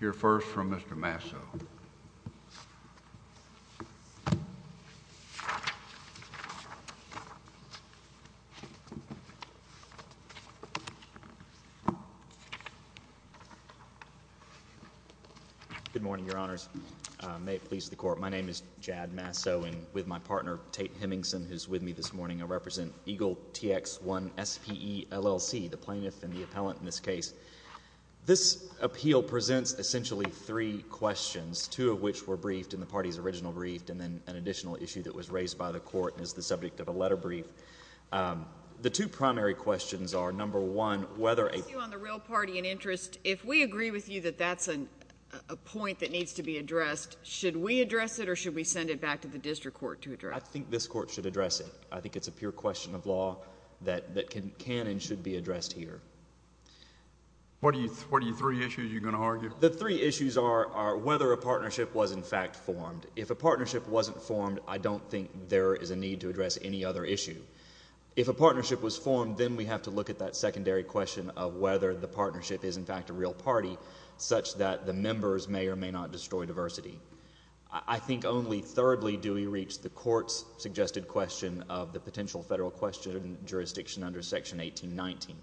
Hear first from Mr. Masso. Good morning, Your Honors. May it please the Court, my name is Jad Masso, and with my partner, Tate Hemmingson, who is with me this morning, I represent Eagle TX I SPE, L.L.C., the plaintiff and the appellant in this case. This appeal presents essentially three questions, two of which were briefed in the party's original brief, and then an additional issue that was raised by the Court and is the subject of a letter brief. The two primary questions are, number one, whether a— On the real party in interest, if we agree with you that that's a point that needs to be addressed, should we address it or should we send it back to the district court to address it? I think this court should address it. I think it's a pure question of law that can and should be addressed here. What are your three issues you're going to argue? The three issues are whether a partnership was in fact formed. If a partnership wasn't formed, I don't think there is a need to address any other issue. If a partnership was formed, then we have to look at that secondary question of whether the partnership is in fact a real party, such that the members may or may not destroy diversity. I think only thirdly do we reach the court's suggested question of the potential federal question jurisdiction under Section 1819.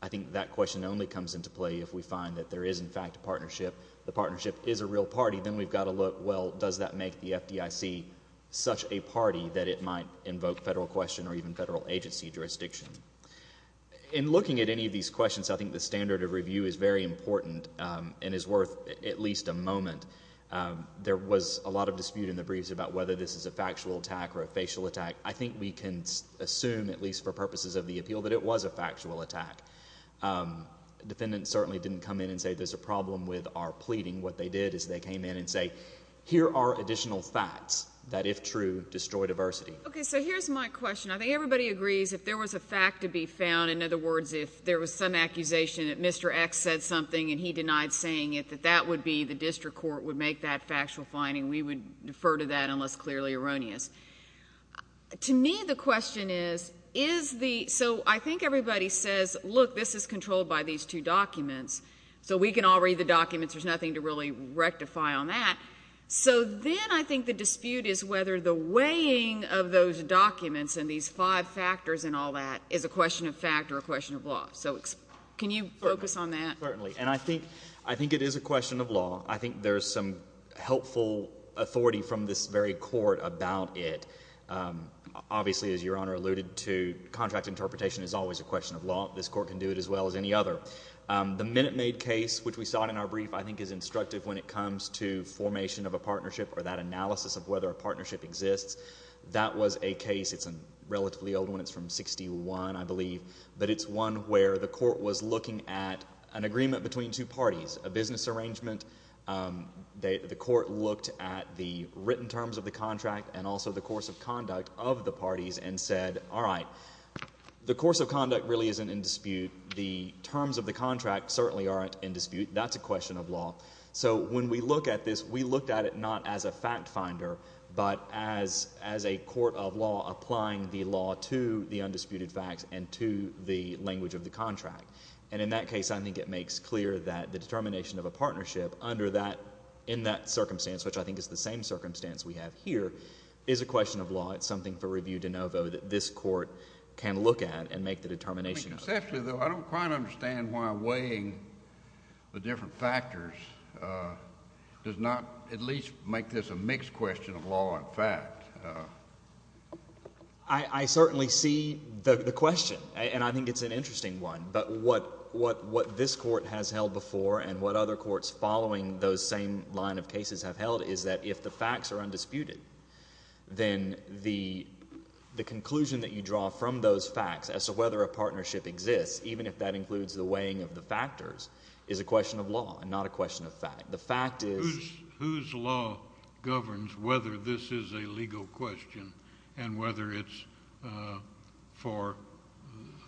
I think that question only comes into play if we find that there is in fact a partnership, the partnership is a real party. Then we've got to look, well, does that make the FDIC such a party that it might invoke federal question or even federal agency jurisdiction? In looking at any of these questions, I think the standard of review is very important and is worth at least a moment. There was a lot of dispute in the briefs about whether this is a factual attack or a facial attack. I think we can assume, at least for purposes of the appeal, that it was a factual attack. Defendants certainly didn't come in and say there's a problem with our pleading. What they did is they came in and say, here are additional facts that, if true, destroy diversity. Okay, so here's my question. I think everybody agrees if there was a fact to be found, in other words, if there was some accusation that Mr. X said something and he denied saying it, that that would be the district court would make that factual finding. We would defer to that unless clearly erroneous. To me, the question is, is the—so I think everybody says, look, this is controlled by these two documents, so we can all read the documents. There's nothing to really rectify on that. So then I think the dispute is whether the weighing of those documents and these five factors and all that is a question of fact or a question of law. So can you focus on that? Certainly, and I think it is a question of law. I think there's some helpful authority from this very court about it. Obviously, as Your Honor alluded to, contract interpretation is always a question of law. This court can do it as well as any other. The MinuteMaid case, which we saw in our brief, I think is instructive when it comes to formation of a partnership or that analysis of whether a partnership exists. That was a case. It's a relatively old one. It's from 1961, I believe. But it's one where the court was looking at an agreement between two parties, a business arrangement. The court looked at the written terms of the contract and also the course of conduct of the parties and said, all right, the course of conduct really isn't in dispute. The terms of the contract certainly aren't in dispute. That's a question of law. So when we look at this, we looked at it not as a fact finder, but as a court of law applying the law to the undisputed facts and to the language of the contract. And in that case, I think it makes clear that the determination of a partnership under that, in that circumstance, which I think is the same circumstance we have here, is a question of law. It's something for review de novo that this court can look at and make the determination of. I don't quite understand why weighing the different factors does not at least make this a mixed question of law and fact. I certainly see the question, and I think it's an interesting one. But what this court has held before and what other courts following those same line of cases have held is that if the facts are undisputed, then the conclusion that you draw from those facts as to whether a partnership exists, even if that includes the weighing of the factors, is a question of law and not a question of fact. The fact is— Whose law governs whether this is a legal question and whether it's for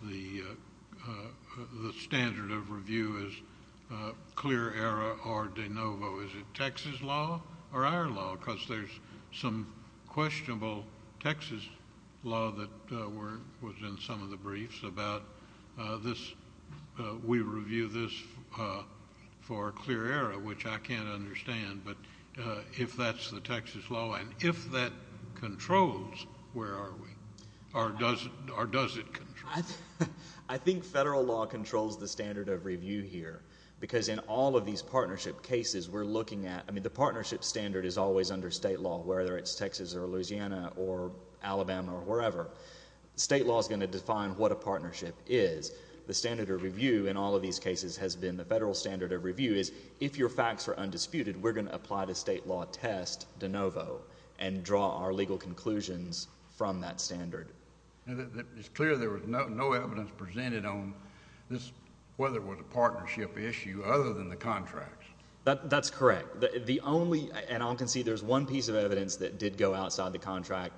the standard of review as clear era or de novo? Is it Texas law or our law? Because there's some questionable Texas law that was in some of the briefs about this. We review this for clear era, which I can't understand. But if that's the Texas law and if that controls, where are we? Or does it control? I think federal law controls the standard of review here. Because in all of these partnership cases, we're looking at— I mean, the partnership standard is always under state law, whether it's Texas or Louisiana or Alabama or wherever. State law is going to define what a partnership is. The standard of review in all of these cases has been the federal standard of review is if your facts are undisputed, we're going to apply the state law test de novo and draw our legal conclusions from that standard. It's clear there was no evidence presented on whether it was a partnership issue other than the contracts. That's correct. The only—and I'll concede there's one piece of evidence that did go outside the contract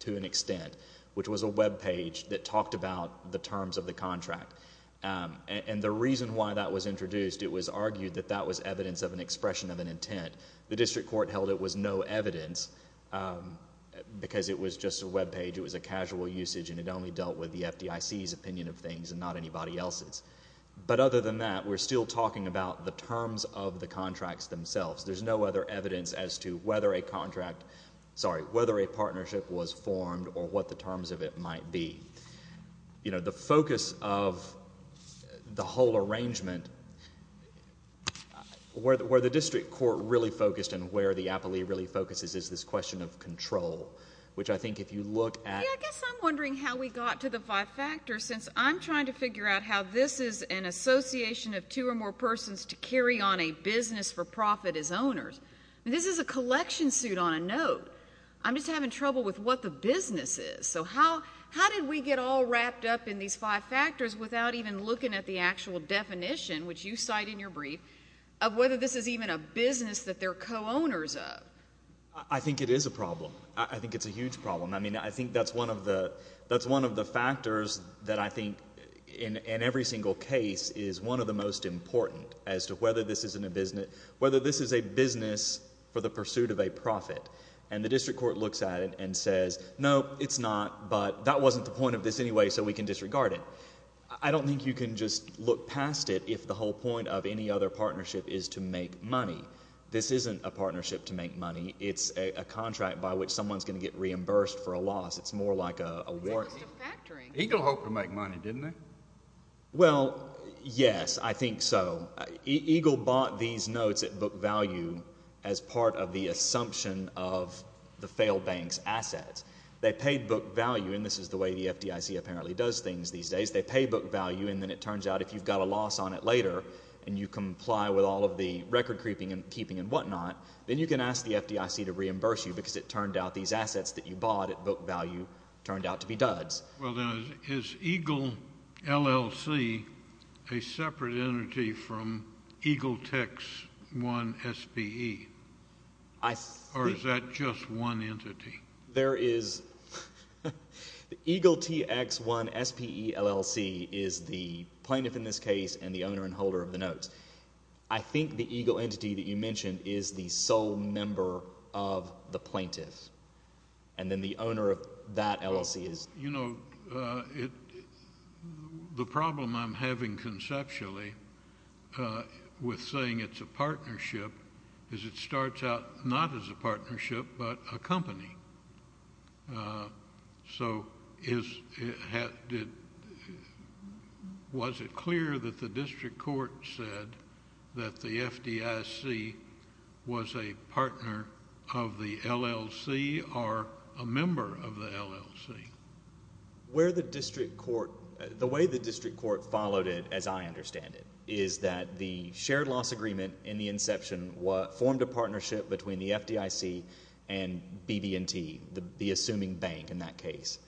to an extent, which was a web page that talked about the terms of the contract. And the reason why that was introduced, it was argued that that was evidence of an expression of an intent. The district court held it was no evidence because it was just a web page. It was a casual usage and it only dealt with the FDIC's opinion of things and not anybody else's. But other than that, we're still talking about the terms of the contracts themselves. There's no other evidence as to whether a contract—sorry, whether a partnership was formed or what the terms of it might be. The focus of the whole arrangement, where the district court really focused and where the appellee really focuses is this question of control, which I think if you look at— I guess I'm wondering how we got to the five factors, since I'm trying to figure out how this is an association of two or more persons to carry on a business for profit as owners. This is a collection suit on a note. I'm just having trouble with what the business is. So how did we get all wrapped up in these five factors without even looking at the actual definition, which you cite in your brief, of whether this is even a business that they're co-owners of? I think it is a problem. I think it's a huge problem. I mean, I think that's one of the factors that I think in every single case is one of the most important as to whether this is a business for the pursuit of a profit. And the district court looks at it and says, no, it's not, but that wasn't the point of this anyway, so we can disregard it. I don't think you can just look past it if the whole point of any other partnership is to make money. This isn't a partnership to make money. It's a contract by which someone's going to get reimbursed for a loss. It's more like a warranty. Eagle hoped to make money, didn't they? Well, yes, I think so. Eagle bought these notes at book value as part of the assumption of the failed bank's assets. They paid book value, and this is the way the FDIC apparently does things these days. They pay book value, and then it turns out if you've got a loss on it later and you comply with all of the record keeping and whatnot, then you can ask the FDIC to reimburse you because it turned out these assets that you bought at book value turned out to be duds. Well, then, is Eagle LLC a separate entity from Eagle TX-1SPE? Or is that just one entity? There is the Eagle TX-1SPE LLC is the plaintiff in this case and the owner and holder of the notes. I think the Eagle entity that you mentioned is the sole member of the plaintiffs, and then the owner of that LLC is— You know, the problem I'm having conceptually with saying it's a partnership is it starts out not as a partnership but a company. So, was it clear that the district court said that the FDIC was a partner of the LLC or a member of the LLC? The way the district court followed it, as I understand it, is that the shared loss agreement in the inception formed a partnership between the FDIC and BB&T, the assuming bank in that case.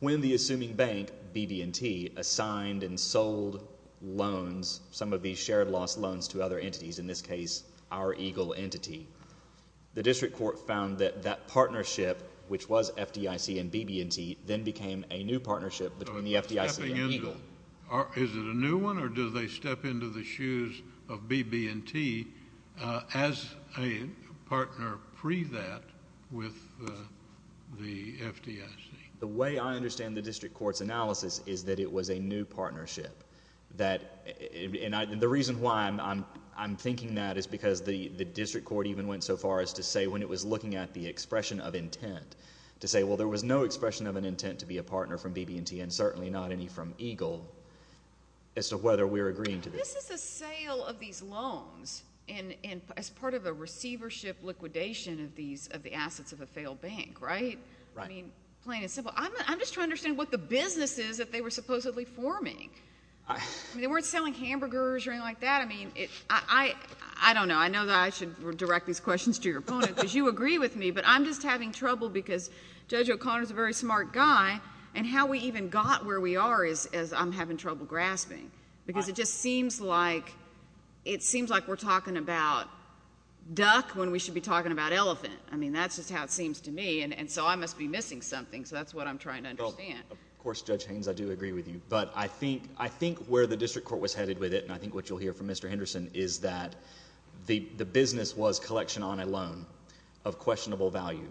When the assuming bank, BB&T, assigned and sold loans, some of these shared loss loans to other entities, in this case our Eagle entity, the district court found that that partnership, which was FDIC and BB&T, then became a new partnership between the FDIC and Eagle. Is it a new one, or do they step into the shoes of BB&T as a partner pre-that with the FDIC? The way I understand the district court's analysis is that it was a new partnership. The reason why I'm thinking that is because the district court even went so far as to say when it was looking at the expression of intent, to say, well, there was no expression of an intent to be a partner from BB&T, and certainly not any from Eagle, as to whether we're agreeing to this. This is a sale of these loans as part of a receivership liquidation of the assets of a failed bank, right? Right. I mean, plain and simple. I'm just trying to understand what the business is that they were supposedly forming. I mean, they weren't selling hamburgers or anything like that. I mean, I don't know. I know that I should direct these questions to your opponent because you agree with me, but I'm just having trouble because Judge O'Connor is a very smart guy, and how we even got where we are is I'm having trouble grasping because it just seems like we're talking about duck when we should be talking about elephant. I mean, that's just how it seems to me, and so I must be missing something, so that's what I'm trying to understand. Of course, Judge Haynes, I do agree with you, but I think where the district court was headed with it, and I think what you'll hear from Mr. Henderson is that the business was collection on a loan of questionable value,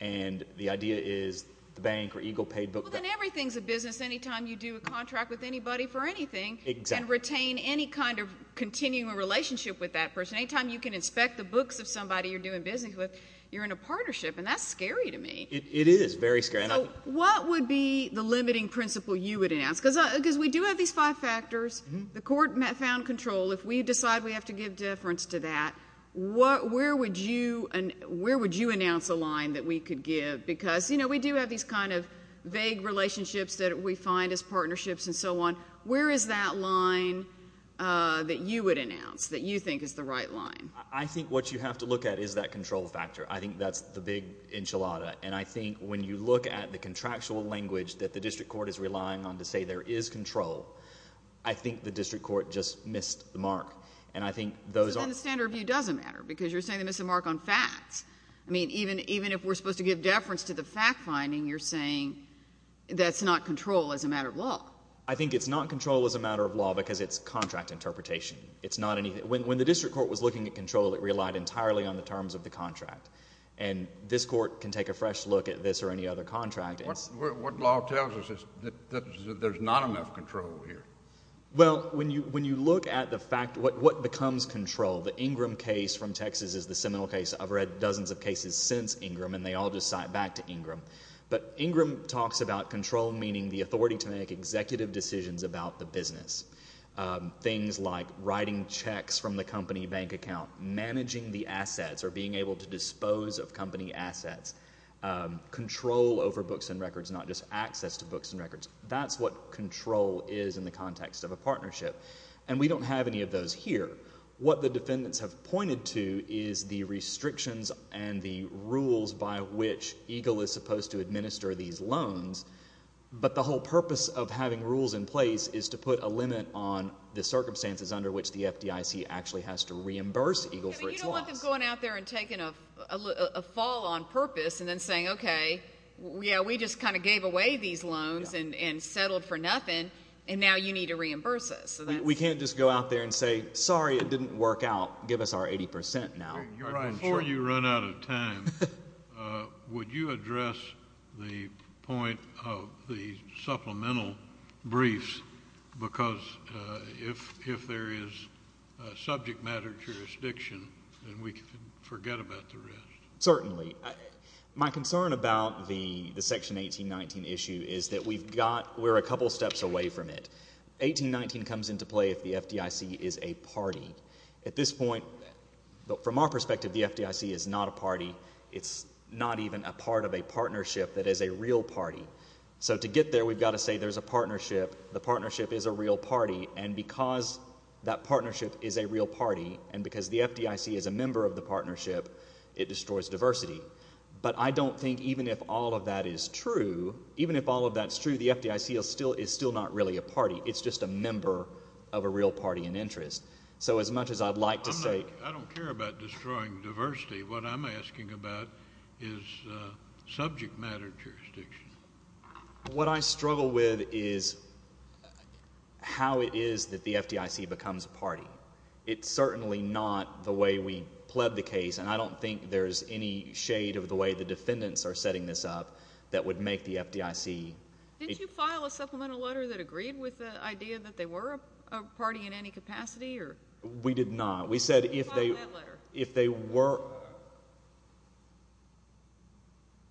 and the idea is the bank or EGLE paid book. Well, then everything's a business anytime you do a contract with anybody for anything and retain any kind of continuing relationship with that person. Anytime you can inspect the books of somebody you're doing business with, you're in a partnership, and that's scary to me. It is very scary. So what would be the limiting principle you would announce? Because we do have these five factors. The court found control. If we decide we have to give deference to that, where would you announce a line that we could give? Because, you know, we do have these kind of vague relationships that we find as partnerships and so on. Where is that line that you would announce that you think is the right line? I think what you have to look at is that control factor. I think that's the big enchilada, and I think when you look at the contractual language that the district court is relying on to say there is control, I think the district court just missed the mark. So then the standard of view doesn't matter because you're saying they missed the mark on facts. I mean, even if we're supposed to give deference to the fact finding, you're saying that's not control as a matter of law. I think it's not control as a matter of law because it's contract interpretation. When the district court was looking at control, it relied entirely on the terms of the contract, and this court can take a fresh look at this or any other contract. What law tells us is that there's not enough control here. Well, when you look at the fact, what becomes control? The Ingram case from Texas is the seminal case. I've read dozens of cases since Ingram, and they all just cite back to Ingram. But Ingram talks about control meaning the authority to make executive decisions about the business, things like writing checks from the company bank account, managing the assets or being able to dispose of company assets, control over books and records, not just access to books and records. That's what control is in the context of a partnership, and we don't have any of those here. What the defendants have pointed to is the restrictions and the rules by which EGLE is supposed to administer these loans, but the whole purpose of having rules in place is to put a limit on the circumstances under which the FDIC actually has to reimburse EGLE for its loss. But you don't want them going out there and taking a fall on purpose and then saying, okay, yeah, we just kind of gave away these loans and settled for nothing, and now you need to reimburse us. We can't just go out there and say, sorry, it didn't work out. Give us our 80 percent now. Before you run out of time, would you address the point of the supplemental briefs? Because if there is subject matter jurisdiction, then we can forget about the rest. Certainly. My concern about the Section 1819 issue is that we've got we're a couple steps away from it. 1819 comes into play if the FDIC is a party. At this point, from our perspective, the FDIC is not a party. It's not even a part of a partnership that is a real party. So to get there, we've got to say there's a partnership, the partnership is a real party, and because that partnership is a real party and because the FDIC is a member of the partnership, it destroys diversity. But I don't think even if all of that is true, even if all of that's true, the FDIC is still not really a party. It's just a member of a real party and interest. So as much as I'd like to say. I don't care about destroying diversity. What I'm asking about is subject matter jurisdiction. What I struggle with is how it is that the FDIC becomes a party. It's certainly not the way we pled the case, and I don't think there's any shade of the way the defendants are setting this up that would make the FDIC. Didn't you file a supplemental letter that agreed with the idea that they were a party in any capacity? We did not. You filed that letter. We said if they were,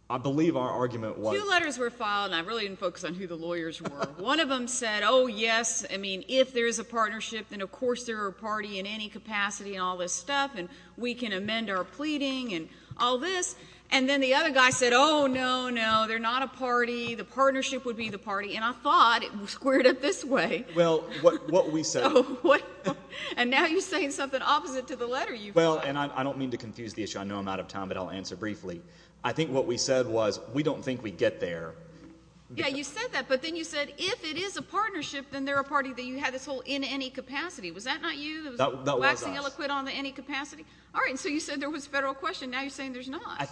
I believe our argument was. Two letters were filed, and I really didn't focus on who the lawyers were. One of them said, oh, yes, I mean, if there is a partnership, then of course they're a party in any capacity and all this stuff, and we can amend our pleading and all this. And then the other guy said, oh, no, no, they're not a party. The partnership would be the party, and I thought it was squared up this way. Well, what we said. And now you're saying something opposite to the letter you filed. Well, and I don't mean to confuse the issue. I know I'm out of time, but I'll answer briefly. I think what we said was we don't think we'd get there. Yeah, you said that, but then you said if it is a partnership, then they're a party that you had this whole in any capacity. Was that not you? That was us. Waxing illiquid on the any capacity? All right, and so you said there was a federal question. Now you're saying there's not.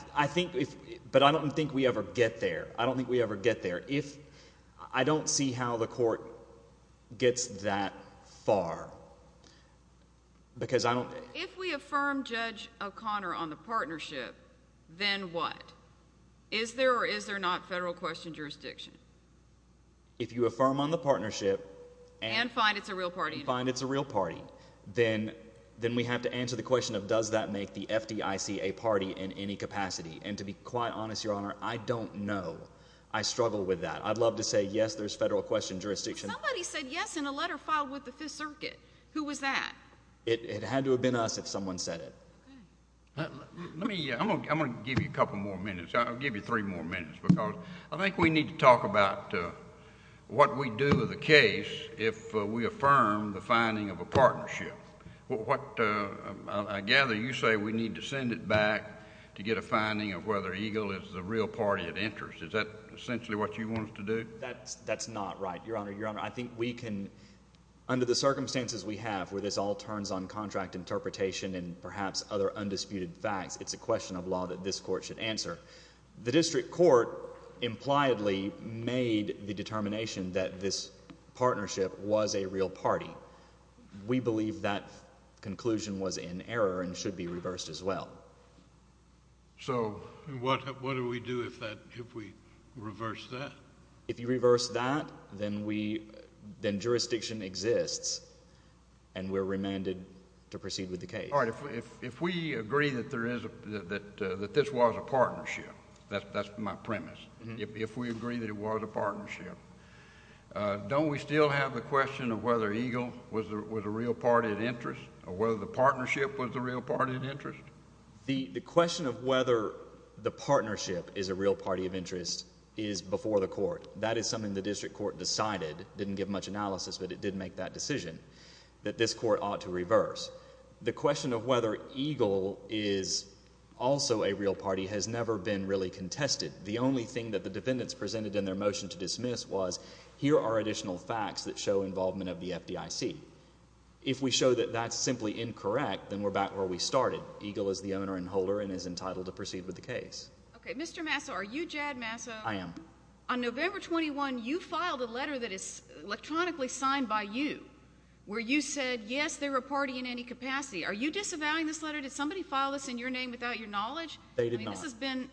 But I don't think we ever get there. I don't think we ever get there. I don't see how the court gets that far. If we affirm Judge O'Connor on the partnership, then what? Is there or is there not federal question jurisdiction? If you affirm on the partnership and find it's a real party, then we have to answer the question of does that make the FDIC a party in any capacity. And to be quite honest, Your Honor, I don't know. I struggle with that. I'd love to say yes, there's federal question jurisdiction. But somebody said yes in a letter filed with the Fifth Circuit. Who was that? It had to have been us if someone said it. I'm going to give you a couple more minutes. I'll give you three more minutes because I think we need to talk about what we do with a case if we affirm the finding of a partnership. I gather you say we need to send it back to get a finding of whether EGLE is a real party of interest. Is that essentially what you want us to do? That's not right, Your Honor. I think we can, under the circumstances we have where this all turns on contract interpretation and perhaps other undisputed facts, it's a question of law that this court should answer. The district court impliedly made the determination that this partnership was a real party. We believe that conclusion was in error and should be reversed as well. So what do we do if we reverse that? If you reverse that, then jurisdiction exists and we're remanded to proceed with the case. All right. If we agree that this was a partnership, that's my premise, if we agree that it was a partnership, don't we still have the question of whether EGLE was a real party of interest or whether the partnership was a real party of interest? The question of whether the partnership is a real party of interest is before the court. That is something the district court decided, didn't give much analysis, but it did make that decision that this court ought to reverse. The question of whether EGLE is also a real party has never been really contested. The only thing that the defendants presented in their motion to dismiss was here are additional facts that show involvement of the FDIC. If we show that that's simply incorrect, then we're back where we started. EGLE is the owner and holder and is entitled to proceed with the case. Okay. Mr. Masso, are you Jad Masso? I am. On November 21, you filed a letter that is electronically signed by you where you said, yes, they were a party in any capacity. Are you disavowing this letter? Did somebody file this in your name without your knowledge? They did not. This has been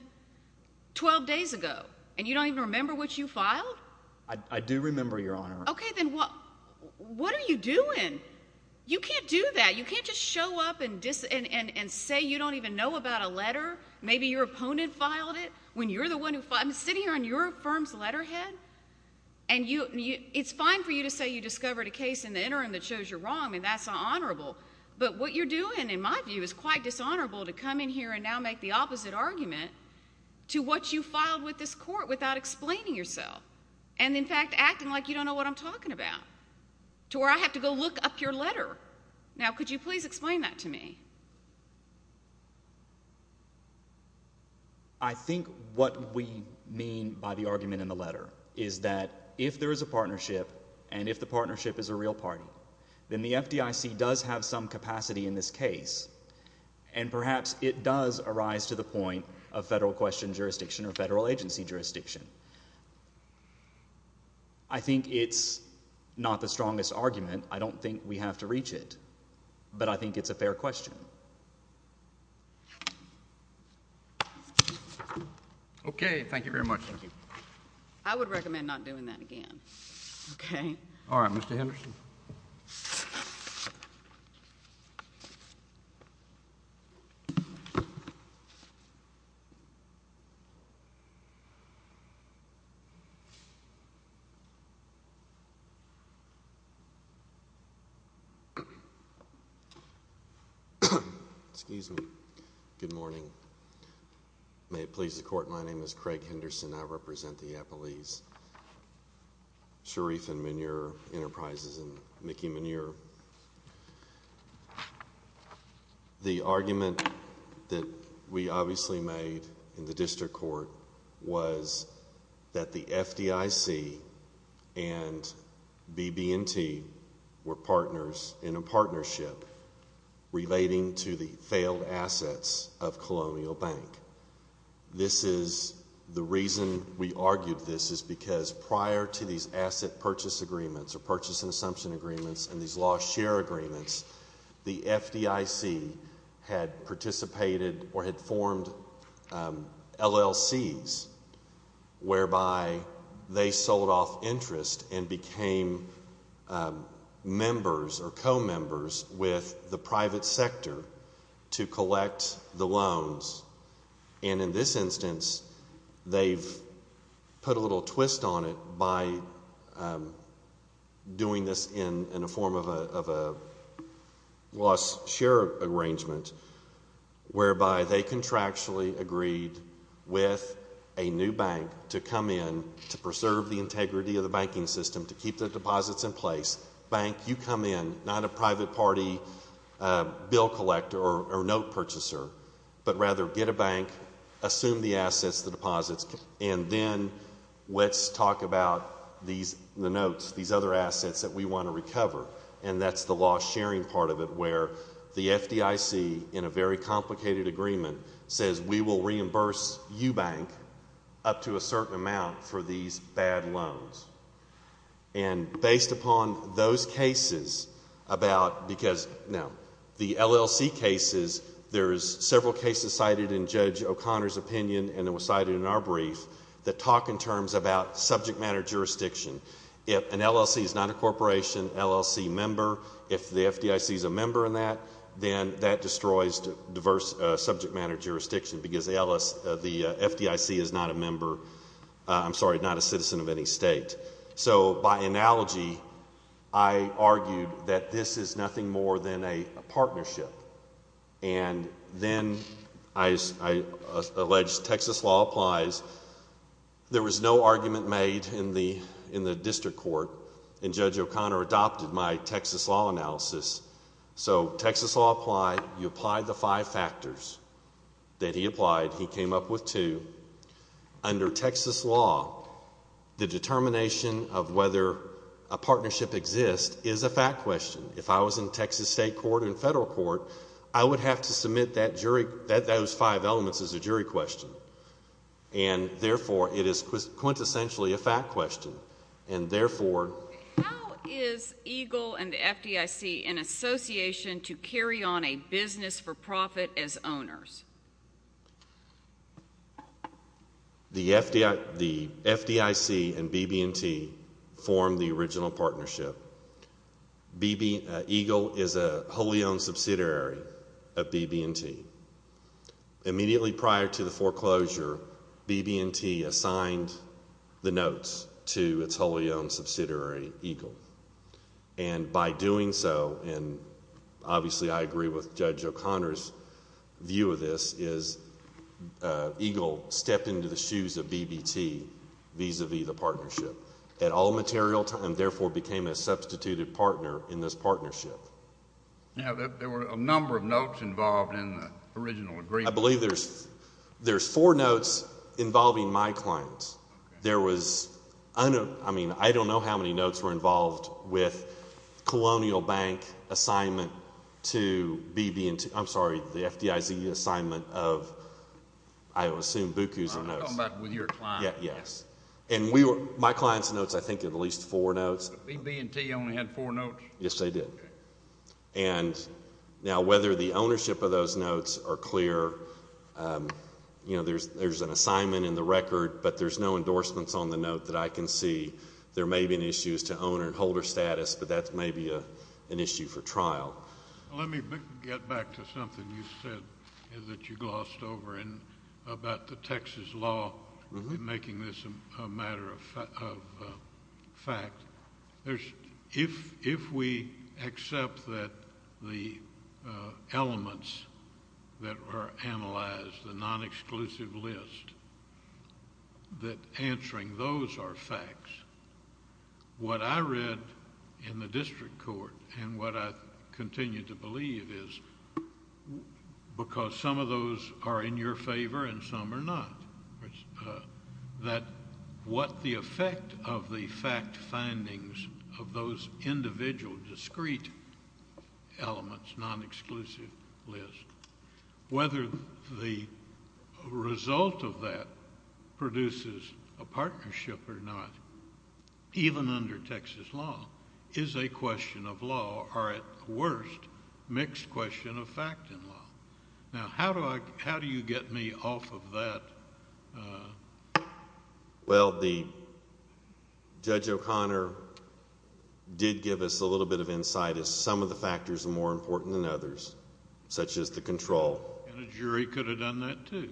12 days ago, and you don't even remember what you filed? I do remember, Your Honor. Okay. Then what are you doing? You can't do that. You can't just show up and say you don't even know about a letter. Maybe your opponent filed it when you're the one who filed it. I'm sitting here on your firm's letterhead, and it's fine for you to say you discovered a case in the interim that shows you're wrong. I mean, that's honorable. But what you're doing, in my view, is quite dishonorable to come in here and now make the opposite argument to what you filed with this court without explaining yourself and, in fact, acting like you don't know what I'm talking about to where I have to go look up your letter. Now, could you please explain that to me? I think what we mean by the argument in the letter is that if there is a partnership and if the partnership is a real party, then the FDIC does have some capacity in this case, and perhaps it does arise to the point of federal question jurisdiction or federal agency jurisdiction. I think it's not the strongest argument. I don't think we have to reach it, but I think it's a fair question. Okay. Thank you very much. I would recommend not doing that again, okay? All right, Mr. Henderson. Excuse me. Good morning. May it please the court, my name is Craig Henderson. I represent the Appalachian Sharif and Manure Enterprises and Mickey Manure. The argument that we obviously made in the district court was that the FDIC and BB&T were partners in a partnership relating to the failed assets of Colonial Bank. This is the reason we argued this is because prior to these asset purchase agreements or purchase and assumption agreements and these lost share agreements, the FDIC had participated or had formed LLCs whereby they sold off interest and became members or co-members with the private sector to collect the loans. And in this instance, they've put a little twist on it by doing this in a form of a lost share arrangement whereby they contractually agreed with a new bank to come in to preserve the integrity of the banking system, to keep the deposits in place. Bank, you come in, not a private party bill collector or note purchaser, but rather get a bank, assume the assets, the deposits, and then let's talk about the notes, these other assets that we want to recover. And that's the lost sharing part of it where the FDIC, in a very complicated agreement, says we will reimburse you, bank, up to a certain amount for these bad loans. And based upon those cases about, because now, the LLC cases, there's several cases cited in Judge O'Connor's opinion and it was cited in our brief that talk in terms about subject matter jurisdiction. If an LLC is not a corporation, LLC member, if the FDIC is a member in that, then that destroys diverse subject matter jurisdiction because the FDIC is not a member, I'm sorry, not a citizen of any state. So by analogy, I argued that this is nothing more than a partnership. And then I alleged Texas law applies. There was no argument made in the district court, and Judge O'Connor adopted my Texas law analysis. So Texas law applied, you applied the five factors that he applied. He came up with two. Under Texas law, the determination of whether a partnership exists is a fact question. If I was in Texas state court and federal court, I would have to submit those five elements as a jury question. And therefore, it is quintessentially a fact question. And therefore— How is EGLE and the FDIC in association to carry on a business for profit as owners? The FDIC and BB&T formed the original partnership. EGLE is a wholly owned subsidiary of BB&T. Immediately prior to the foreclosure, BB&T assigned the notes to its wholly owned subsidiary, EGLE. And by doing so, and obviously I agree with Judge O'Connor's view of this, is EGLE stepped into the shoes of BB&T vis-a-vis the partnership. And at all material time, therefore, became a substituted partner in this partnership. Now, there were a number of notes involved in the original agreement. I believe there's four notes involving my clients. There was—I mean, I don't know how many notes were involved with Colonial Bank assignment to BB&T. I'm sorry, the FDIC assignment of, I assume, BUCUs and notes. I'm talking about with your client. Yes. And we were—my client's notes, I think at least four notes. BB&T only had four notes? Yes, they did. Okay. And now whether the ownership of those notes are clear, you know, there's an assignment in the record, but there's no endorsements on the note that I can see. There may be an issue as to owner and holder status, but that may be an issue for trial. Let me get back to something you said that you glossed over about the Texas law making this a matter of fact. If we accept that the elements that were analyzed, the non-exclusive list, that answering those are facts, what I read in the district court and what I continue to believe is, because some of those are in your favor and some are not, that what the effect of the fact findings of those individual, discrete elements, non-exclusive list, whether the result of that produces a partnership or not, even under Texas law, is a question of law, or at worst, a mixed question of fact and law. Now, how do you get me off of that? Well, Judge O'Connor did give us a little bit of insight as some of the factors are more important than others, such as the control. And a jury could have done that, too.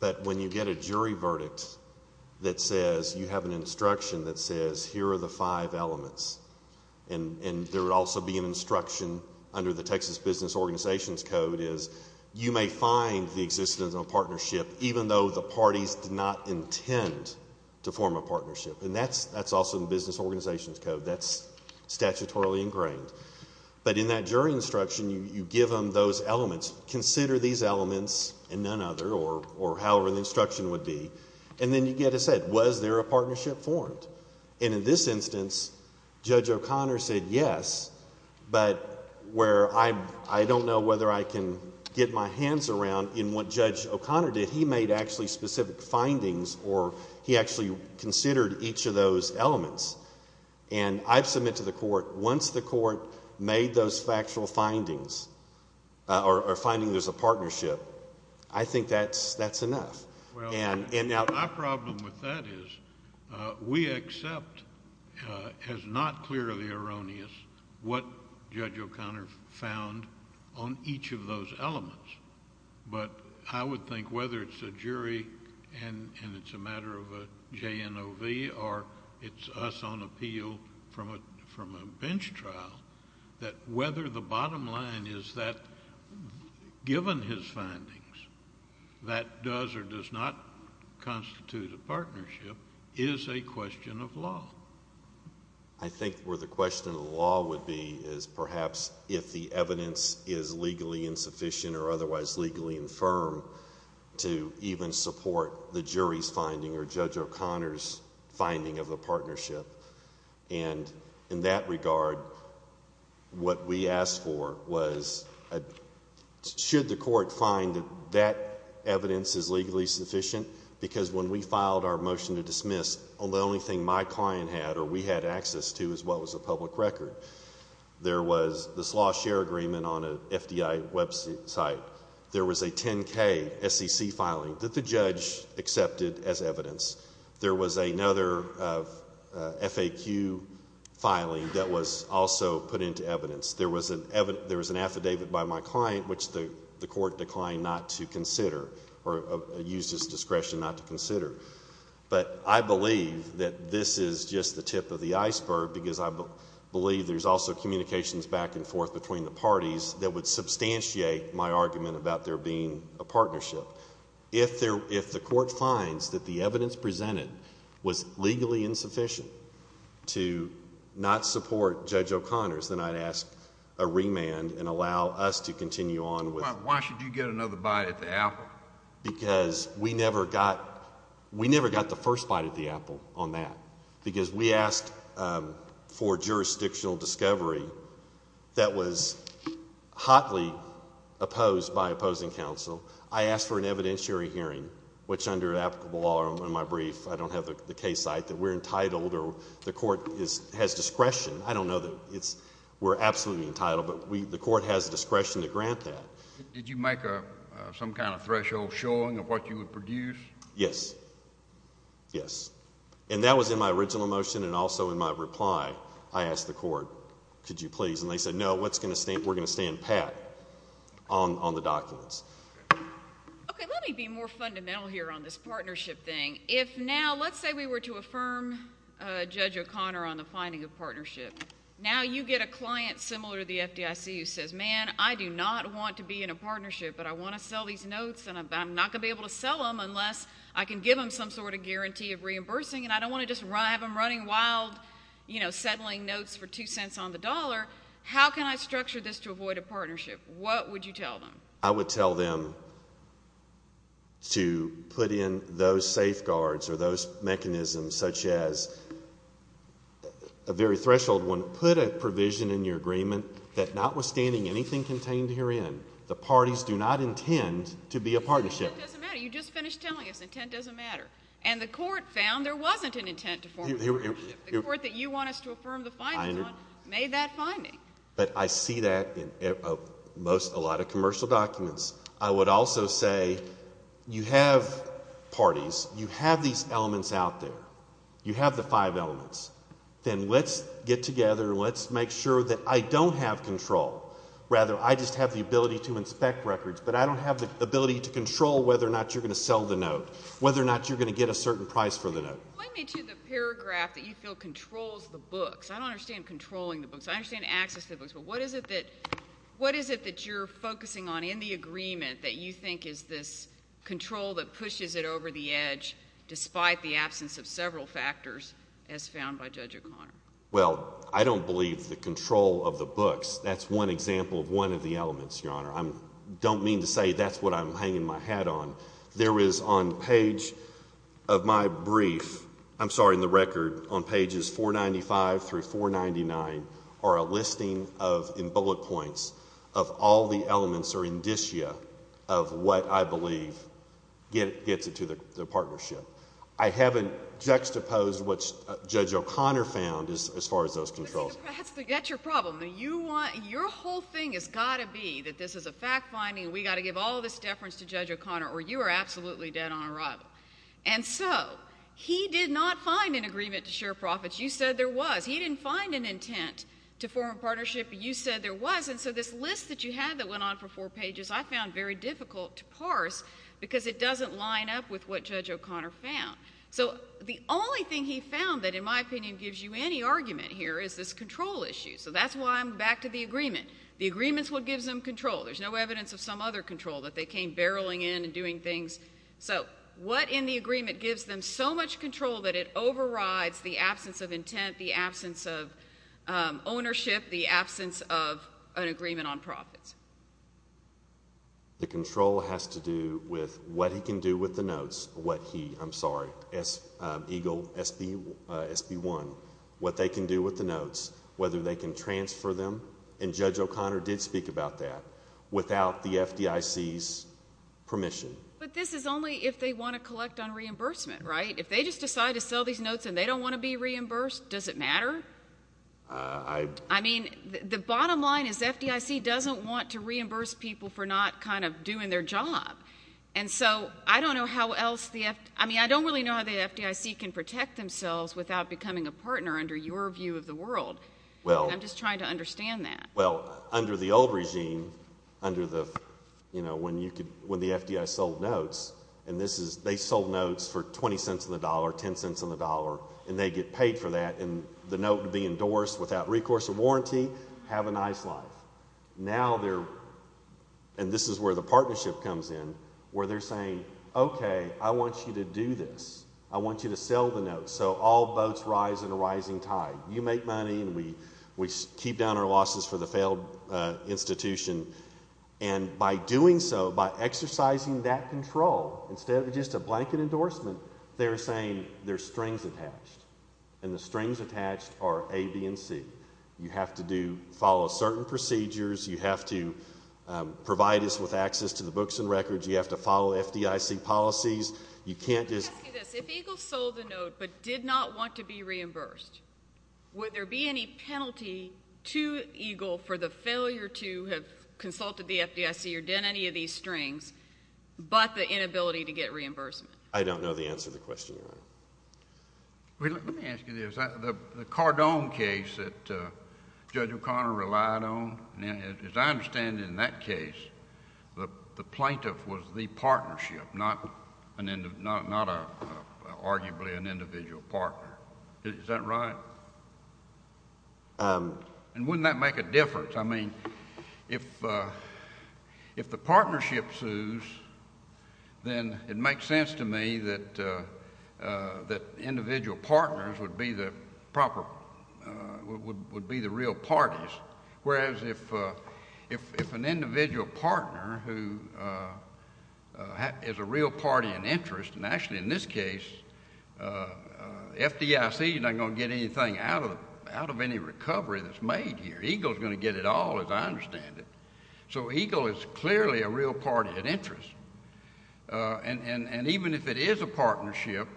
But when you get a jury verdict that says you have an instruction that says here are the five elements, and there would also be an instruction under the Texas Business Organizations Code is you may find the existence of a partnership even though the parties did not intend to form a partnership. And that's also in the Business Organizations Code. That's statutorily ingrained. But in that jury instruction, you give them those elements, consider these elements and none other, or however the instruction would be, and then you get a set. Was there a partnership formed? And in this instance, Judge O'Connor said yes, but where I don't know whether I can get my hands around in what Judge O'Connor did, he made actually specific findings or he actually considered each of those elements. And I've submitted to the Court, once the Court made those factual findings or finding there's a partnership, I think that's enough. Well, my problem with that is we accept as not clearly erroneous what Judge O'Connor found on each of those elements. But I would think whether it's a jury and it's a matter of a JNOV or it's us on appeal from a bench trial, that whether the bottom line is that given his findings that does or does not constitute a partnership is a question of law. I think where the question of law would be is perhaps if the evidence is legally insufficient or otherwise legally infirm to even support the jury's finding or Judge O'Connor's finding of a partnership. And in that regard, what we asked for was should the Court find that that evidence is legally sufficient? Because when we filed our motion to dismiss, the only thing my client had or we had access to is what was a public record. There was this law share agreement on an FDI website. There was a 10K SEC filing that the judge accepted as evidence. There was another FAQ filing that was also put into evidence. There was an affidavit by my client which the Court declined not to consider or used his discretion not to consider. But I believe that this is just the tip of the iceberg because I believe there's also communications back and forth between the parties that would substantiate my argument about there being a partnership. If the Court finds that the evidence presented was legally insufficient to not support Judge O'Connor's, then I'd ask a remand and allow us to continue on with it. Why should you get another bite at the apple? Because we never got the first bite at the apple on that. Because we asked for jurisdictional discovery that was hotly opposed by opposing counsel. I asked for an evidentiary hearing, which under applicable law in my brief, I don't have the case site, that we're entitled or the Court has discretion. I don't know that we're absolutely entitled, but the Court has discretion to grant that. Did you make some kind of threshold showing of what you would produce? Yes. Yes. And that was in my original motion and also in my reply. I asked the Court, could you please? And they said, no, we're going to stand pat on the documents. Okay, let me be more fundamental here on this partnership thing. If now, let's say we were to affirm Judge O'Connor on the finding of partnership. Now you get a client similar to the FDIC who says, man, I do not want to be in a partnership, but I want to sell these notes and I'm not going to be able to sell them unless I can give them some sort of guarantee of reimbursing and I don't want to just have them running wild, you know, settling notes for two cents on the dollar. How can I structure this to avoid a partnership? What would you tell them? I would tell them to put in those safeguards or those mechanisms such as a very threshold one, put a provision in your agreement that notwithstanding anything contained herein, the parties do not intend to be a partnership. Intent doesn't matter. You just finished telling us intent doesn't matter. And the Court found there wasn't an intent to form a partnership. The Court that you want us to affirm the findings on made that finding. But I see that in a lot of commercial documents. I would also say you have parties. You have these elements out there. You have the five elements. Then let's get together and let's make sure that I don't have control. Rather, I just have the ability to inspect records, but I don't have the ability to control whether or not you're going to sell the note, whether or not you're going to get a certain price for the note. Lend me to the paragraph that you feel controls the books. I don't understand controlling the books. I understand access to the books, but what is it that you're focusing on in the agreement that you think is this control that pushes it over the edge despite the absence of several factors as found by Judge O'Connor? Well, I don't believe the control of the books. That's one example of one of the elements, Your Honor. I don't mean to say that's what I'm hanging my hat on. There is on page of my brief, I'm sorry, in the record, on pages 495 through 499 are a listing of, in bullet points, of all the elements or indicia of what I believe gets it to the partnership. I haven't juxtaposed what Judge O'Connor found as far as those controls. That's your problem. Your whole thing has got to be that this is a fact-finding and we've got to give all this deference to Judge O'Connor or you are absolutely dead on arrival. And so he did not find an agreement to share profits. You said there was. He didn't find an intent to form a partnership, but you said there was. And so this list that you had that went on for four pages I found very difficult to parse because it doesn't line up with what Judge O'Connor found. So the only thing he found that, in my opinion, gives you any argument here is this control issue. So that's why I'm back to the agreement. The agreement's what gives them control. There's no evidence of some other control, that they came barreling in and doing things. So what in the agreement gives them so much control that it overrides the absence of intent, the absence of ownership, the absence of an agreement on profits? The control has to do with what he can do with the notes, what he, I'm sorry, Eagle SB1, what they can do with the notes, whether they can transfer them. And Judge O'Connor did speak about that without the FDIC's permission. But this is only if they want to collect on reimbursement, right? If they just decide to sell these notes and they don't want to be reimbursed, does it matter? I mean, the bottom line is the FDIC doesn't want to reimburse people for not kind of doing their job. And so I don't know how else the FDIC, I mean, I don't really know how the FDIC can protect themselves without becoming a partner under your view of the world. I'm just trying to understand that. Well, under the old regime, under the, you know, when you could, when the FDIC sold notes, and this is, they sold notes for 20 cents on the dollar, 10 cents on the dollar, and they get paid for that and the note would be endorsed without recourse or warranty, have a nice life. Now they're, and this is where the partnership comes in, where they're saying, okay, I want you to do this. I want you to sell the notes so all boats rise in a rising tide. You make money and we keep down our losses for the failed institution. And by doing so, by exercising that control, instead of just a blanket endorsement, they're saying there's strings attached, and the strings attached are A, B, and C. You have to do, follow certain procedures. You have to provide us with access to the books and records. You have to follow FDIC policies. You can't just Let me ask you this. If EGLE sold the note but did not want to be reimbursed, would there be any penalty to EGLE for the failure to have consulted the FDIC or done any of these strings but the inability to get reimbursement? I don't know the answer to the question, Your Honor. Let me ask you this. The Cardone case that Judge O'Connor relied on, as I understand it in that case, the plaintiff was the partnership, not arguably an individual partner. Is that right? And wouldn't that make a difference? I mean, if the partnership sues, then it makes sense to me that individual partners would be the proper, would be the real parties. Whereas if an individual partner who is a real party in interest, and actually in this case FDIC is not going to get anything out of any recovery that's made here. EGLE is going to get it all, as I understand it. So EGLE is clearly a real party of interest. And even if it is a partnership,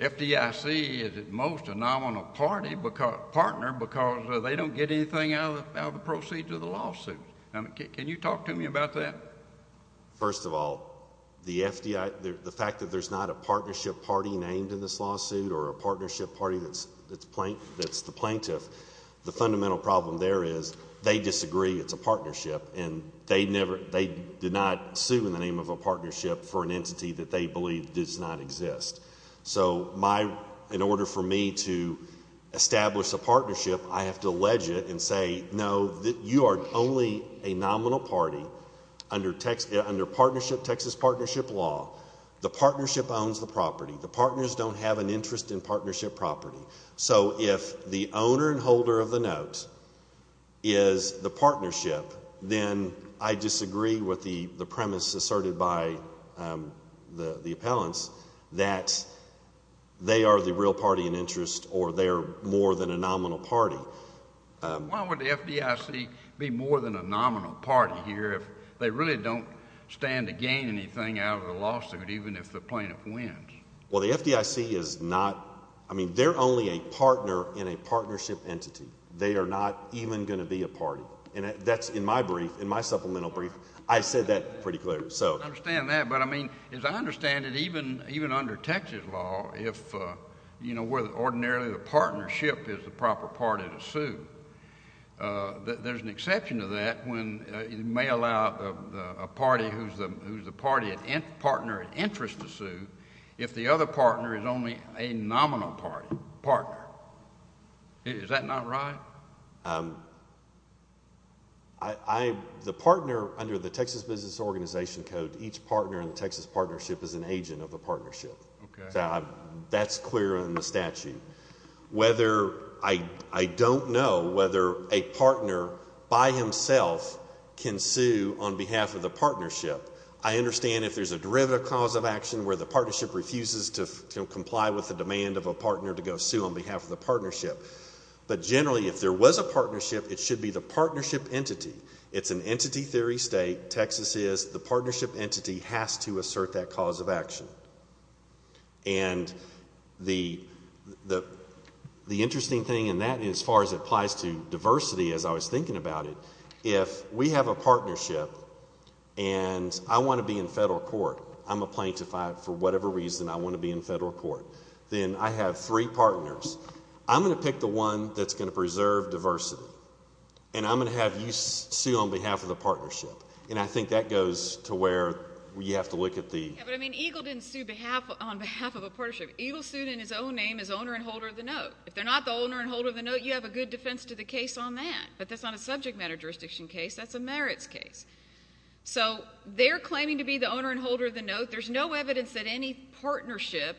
FDIC is at most a nominal partner because they don't get anything out of the proceeds of the lawsuit. Can you talk to me about that? First of all, the FDIC, the fact that there's not a partnership party named in this lawsuit or a partnership party that's the plaintiff, the fundamental problem there is they disagree it's a partnership, and they did not sue in the name of a partnership for an entity that they believe does not exist. So in order for me to establish a partnership, I have to allege it and say, no, you are only a nominal party under Texas partnership law. The partnership owns the property. The partners don't have an interest in partnership property. So if the owner and holder of the note is the partnership, then I disagree with the premise asserted by the appellants that they are the real party in interest or they're more than a nominal party. Why would the FDIC be more than a nominal party here if they really don't stand to gain anything out of the lawsuit, even if the plaintiff wins? Well, the FDIC is not, I mean, they're only a partner in a partnership entity. They are not even going to be a party. And that's in my brief, in my supplemental brief, I said that pretty clearly. I understand that. But, I mean, as I understand it, even under Texas law, if, you know, where ordinarily the partnership is the proper party to sue, there's an exception to that when you may allow a party who's the partner in interest to sue if the other partner is only a nominal party, partner. Is that not right? I, the partner under the Texas Business Organization Code, each partner in the Texas partnership is an agent of the partnership. Okay. So that's clear in the statute. Whether, I don't know whether a partner by himself can sue on behalf of the partnership. I understand if there's a derivative cause of action where the partnership refuses to comply with the demand of a partner to go sue on behalf of the partnership. But generally, if there was a partnership, it should be the partnership entity. It's an entity theory state. Texas is the partnership entity has to assert that cause of action. And the interesting thing in that, as far as it applies to diversity, as I was thinking about it, if we have a partnership and I want to be in federal court, I'm a plaintiff for whatever reason I want to be in federal court, then I have three partners. I'm going to pick the one that's going to preserve diversity. And I'm going to have you sue on behalf of the partnership. And I think that goes to where you have to look at the— But, I mean, Eagle didn't sue on behalf of a partnership. Eagle sued in his own name as owner and holder of the note. If they're not the owner and holder of the note, you have a good defense to the case on that. But that's not a subject matter jurisdiction case. That's a merits case. So they're claiming to be the owner and holder of the note. There's no evidence that any partnership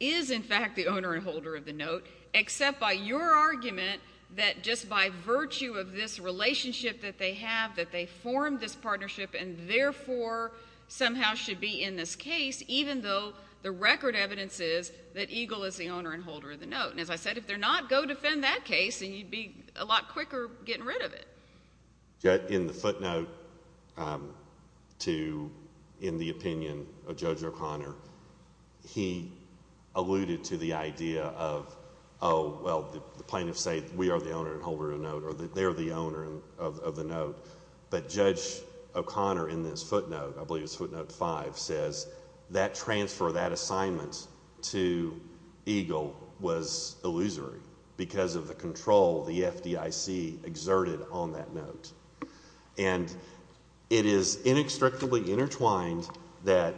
is, in fact, the owner and holder of the note, except by your argument that just by virtue of this relationship that they have, that they formed this partnership and, therefore, somehow should be in this case, even though the record evidence is that Eagle is the owner and holder of the note. And, as I said, if they're not, go defend that case, and you'd be a lot quicker getting rid of it. In the footnote to—in the opinion of Judge O'Connor, he alluded to the idea of, oh, well, the plaintiffs say we are the owner and holder of the note, or that they're the owner of the note. But Judge O'Connor, in this footnote, I believe it's footnote five, says that transfer, that assignment to Eagle was illusory because of the control the FDIC exerted on that note. And it is inextricably intertwined that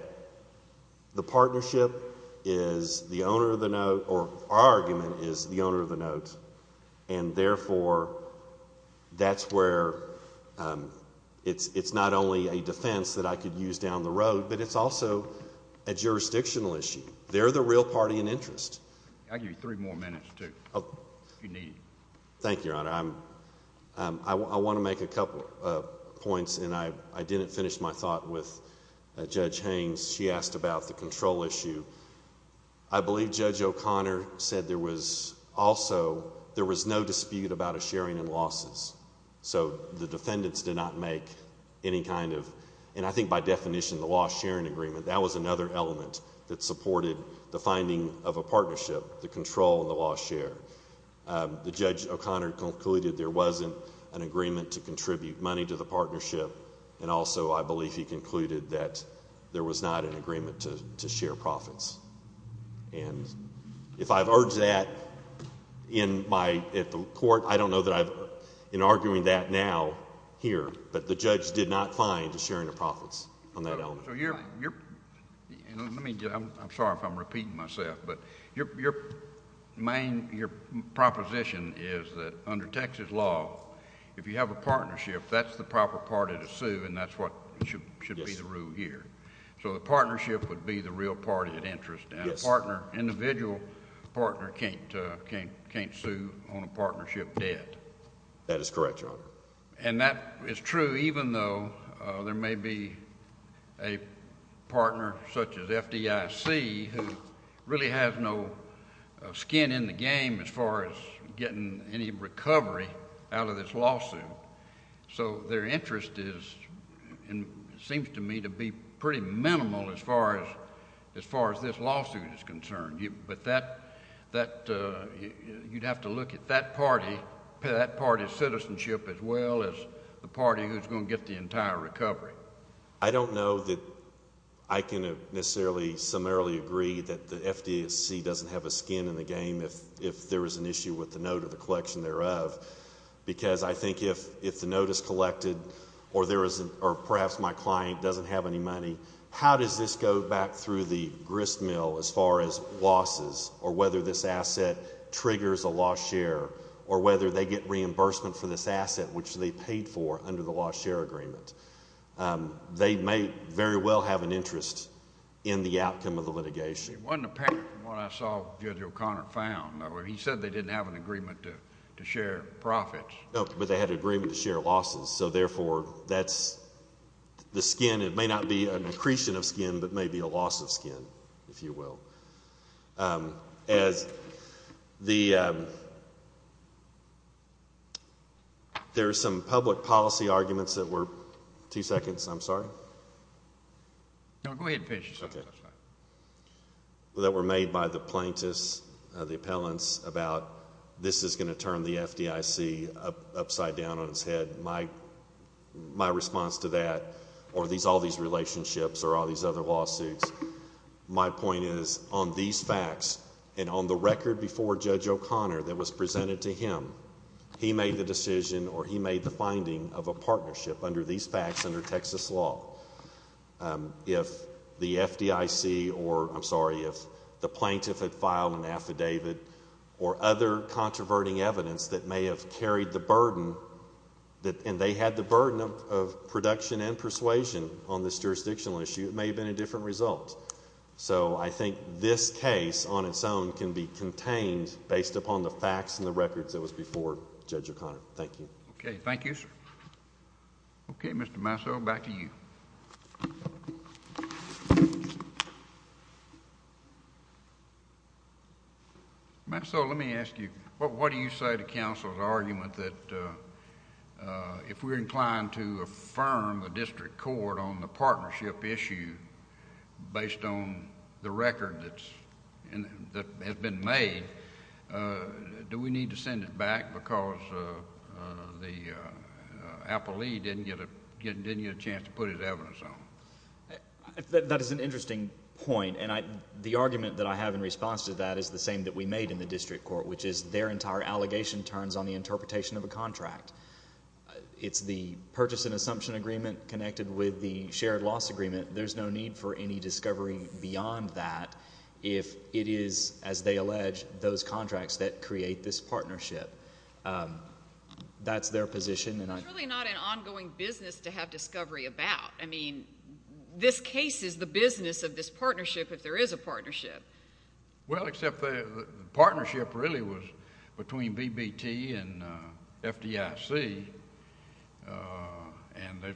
the partnership is the owner of the note, or our argument is the owner of the note, and, therefore, that's where it's not only a defense that I could use down the road, but it's also a jurisdictional issue. They're the real party in interest. I'll give you three more minutes, too, if you need. Thank you, Your Honor. I want to make a couple of points, and I didn't finish my thought with Judge Haines. She asked about the control issue. I believe Judge O'Connor said there was also—there was no dispute about a sharing in losses. So the defendants did not make any kind of— and I think by definition, the loss-sharing agreement, that was another element that supported the finding of a partnership, the control and the loss-share. The Judge O'Connor concluded there wasn't an agreement to contribute money to the partnership, and also I believe he concluded that there was not an agreement to share profits. And if I've urged that in my—at the court, I don't know that I've—in arguing that now here, but the judge did not find a sharing of profits on that element. So you're—let me get—I'm sorry if I'm repeating myself, but your main—your proposition is that under Texas law, if you have a partnership, that's the proper party to sue, and that's what should be the rule here. So the partnership would be the real party of interest, and a partner—individual partner can't sue on a partnership debt. That is correct, Your Honor. And that is true even though there may be a partner such as FDIC who really has no skin in the game as far as getting any recovery out of this lawsuit. So their interest is—seems to me to be pretty minimal as far as this lawsuit is concerned. But that—you'd have to look at that party's citizenship as well as the party who's going to get the entire recovery. I don't know that I can necessarily summarily agree that the FDIC doesn't have a skin in the game if there is an issue with the note or the collection thereof, because I think if the note is collected or there is—or perhaps my client doesn't have any money, how does this go back through the gristmill as far as losses or whether this asset triggers a lost share or whether they get reimbursement for this asset which they paid for under the lost share agreement? They may very well have an interest in the outcome of the litigation. It wasn't apparent from what I saw Judge O'Connor found. He said they didn't have an agreement to share profits. No, but they had an agreement to share losses. So, therefore, that's the skin. It may not be an accretion of skin, but maybe a loss of skin, if you will. As the—there are some public policy arguments that were—two seconds, I'm sorry. No, go ahead and finish. That were made by the plaintiffs, the appellants, about this is going to turn the FDIC upside down on its head. My response to that or all these relationships or all these other lawsuits, my point is on these facts and on the record before Judge O'Connor that was presented to him, he made the decision or he made the finding of a partnership under these facts under Texas law. If the FDIC or, I'm sorry, if the plaintiff had filed an affidavit or other controverting evidence that may have carried the burden and they had the burden of production and persuasion on this jurisdictional issue, it may have been a different result. So, I think this case on its own can be contained based upon the facts and the records that was before Judge O'Connor. Thank you. Okay, thank you, sir. Okay, Mr. Masso, back to you. Masso, let me ask you, what do you say to counsel's argument that if we're inclined to affirm the district court on the partnership issue based on the record that has been made, do we need to send it back because the appellee didn't get a chance to put his evidence on it? That is an interesting point. And the argument that I have in response to that is the same that we made in the district court, which is their entire allegation turns on the interpretation of a contract. It's the purchase and assumption agreement connected with the shared loss agreement. There's no need for any discovery beyond that if it is, as they allege, those contracts that create this partnership. That's their position. It's really not an ongoing business to have discovery about. I mean, this case is the business of this partnership if there is a partnership. Well, except the partnership really was between BBT and FDIC, and there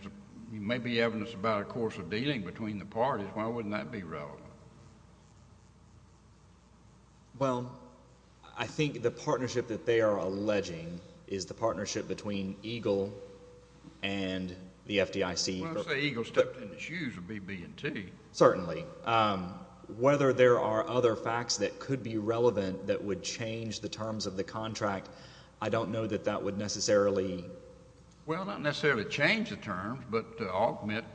may be evidence about a course of dealing between the parties. Why wouldn't that be relevant? Well, I think the partnership that they are alleging is the partnership between EGLE and the FDIC. Well, I say EGLE stepped in the shoes of BB&T. Certainly. Whether there are other facts that could be relevant that would change the terms of the contract, I don't know that that would necessarily. Well, not necessarily change the terms, but augment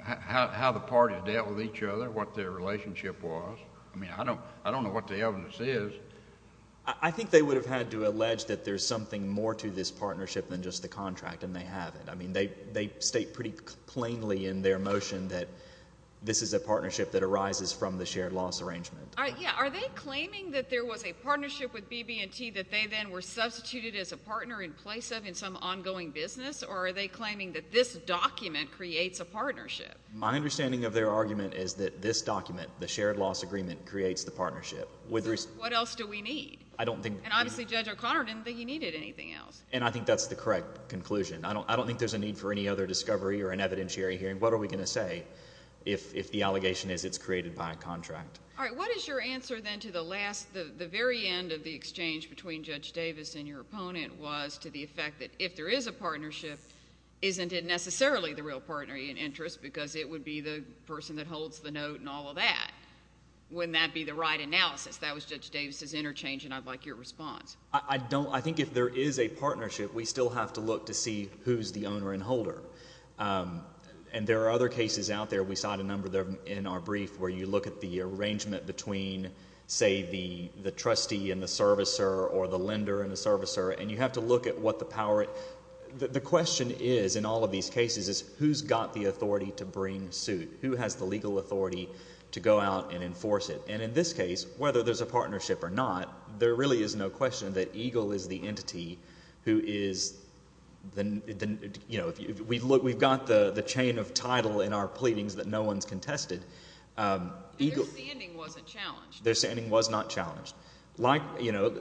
how the parties dealt with each other, what their relationship was. I mean, I don't know what the evidence is. I think they would have had to allege that there's something more to this partnership than just the contract, and they haven't. I mean, they state pretty plainly in their motion that this is a partnership that arises from the shared loss arrangement. Yeah. Are they claiming that there was a partnership with BB&T that they then were substituted as a partner in place of in some ongoing business, or are they claiming that this document creates a partnership? My understanding of their argument is that this document, the shared loss agreement, creates the partnership. What else do we need? And obviously Judge O'Connor didn't think he needed anything else. And I think that's the correct conclusion. I don't think there's a need for any other discovery or an evidentiary hearing. All right. What is your answer then to the last, the very end of the exchange between Judge Davis and your opponent, was to the effect that if there is a partnership, isn't it necessarily the real partner in interest because it would be the person that holds the note and all of that? Wouldn't that be the right analysis? That was Judge Davis's interchange, and I'd like your response. I think if there is a partnership, we still have to look to see who's the owner and holder. And there are other cases out there. We saw a number of them in our brief where you look at the arrangement between, say, the trustee and the servicer or the lender and the servicer, and you have to look at what the power. The question is in all of these cases is who's got the authority to bring suit? Who has the legal authority to go out and enforce it? And in this case, whether there's a partnership or not, there really is no question that EGLE is the entity who is, you know, we've got the chain of title in our pleadings that no one's contested. Their standing wasn't challenged. Their standing was not challenged.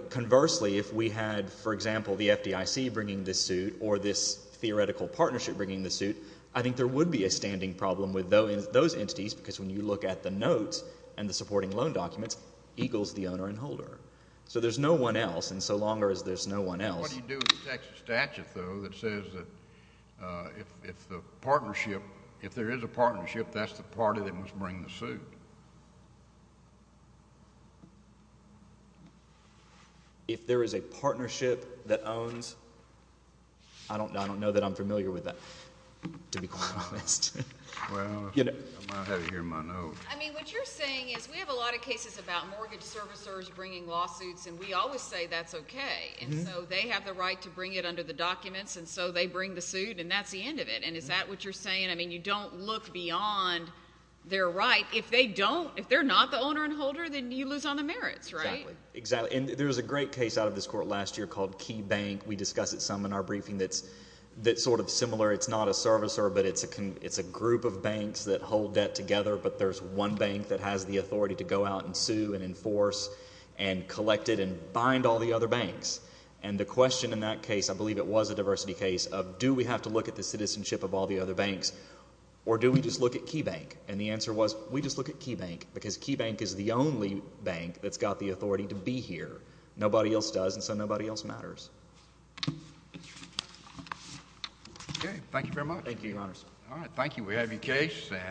Conversely, if we had, for example, the FDIC bringing this suit or this theoretical partnership bringing the suit, I think there would be a standing problem with those entities because when you look at the notes and the supporting loan documents, EGLE is the owner and holder. So there's no one else, and so long as there's no one else. What do you do with the Texas statute, though, that says that if the partnership, if there is a partnership, that's the party that must bring the suit? If there is a partnership that owns, I don't know that I'm familiar with that, to be quite honest. Well, I might have it here in my notes. I mean, what you're saying is we have a lot of cases about mortgage servicers bringing lawsuits, and we always say that's okay, and so they have the right to bring it under the documents, and so they bring the suit, and that's the end of it. And is that what you're saying? I mean, you don't look beyond their right. If they don't, if they're not the owner and holder, then you lose on the merits, right? Exactly, and there was a great case out of this court last year called Key Bank. We discuss it some in our briefing that's sort of similar. It's not a servicer, but it's a group of banks that hold debt together, but there's one bank that has the authority to go out and sue and enforce and collect it and bind all the other banks. And the question in that case, I believe it was a diversity case, of do we have to look at the citizenship of all the other banks, or do we just look at Key Bank? And the answer was we just look at Key Bank because Key Bank is the only bank that's got the authority to be here. Nobody else does, and so nobody else matters. Okay, thank you very much. Thank you, Your Honors. All right, thank you. We have your case.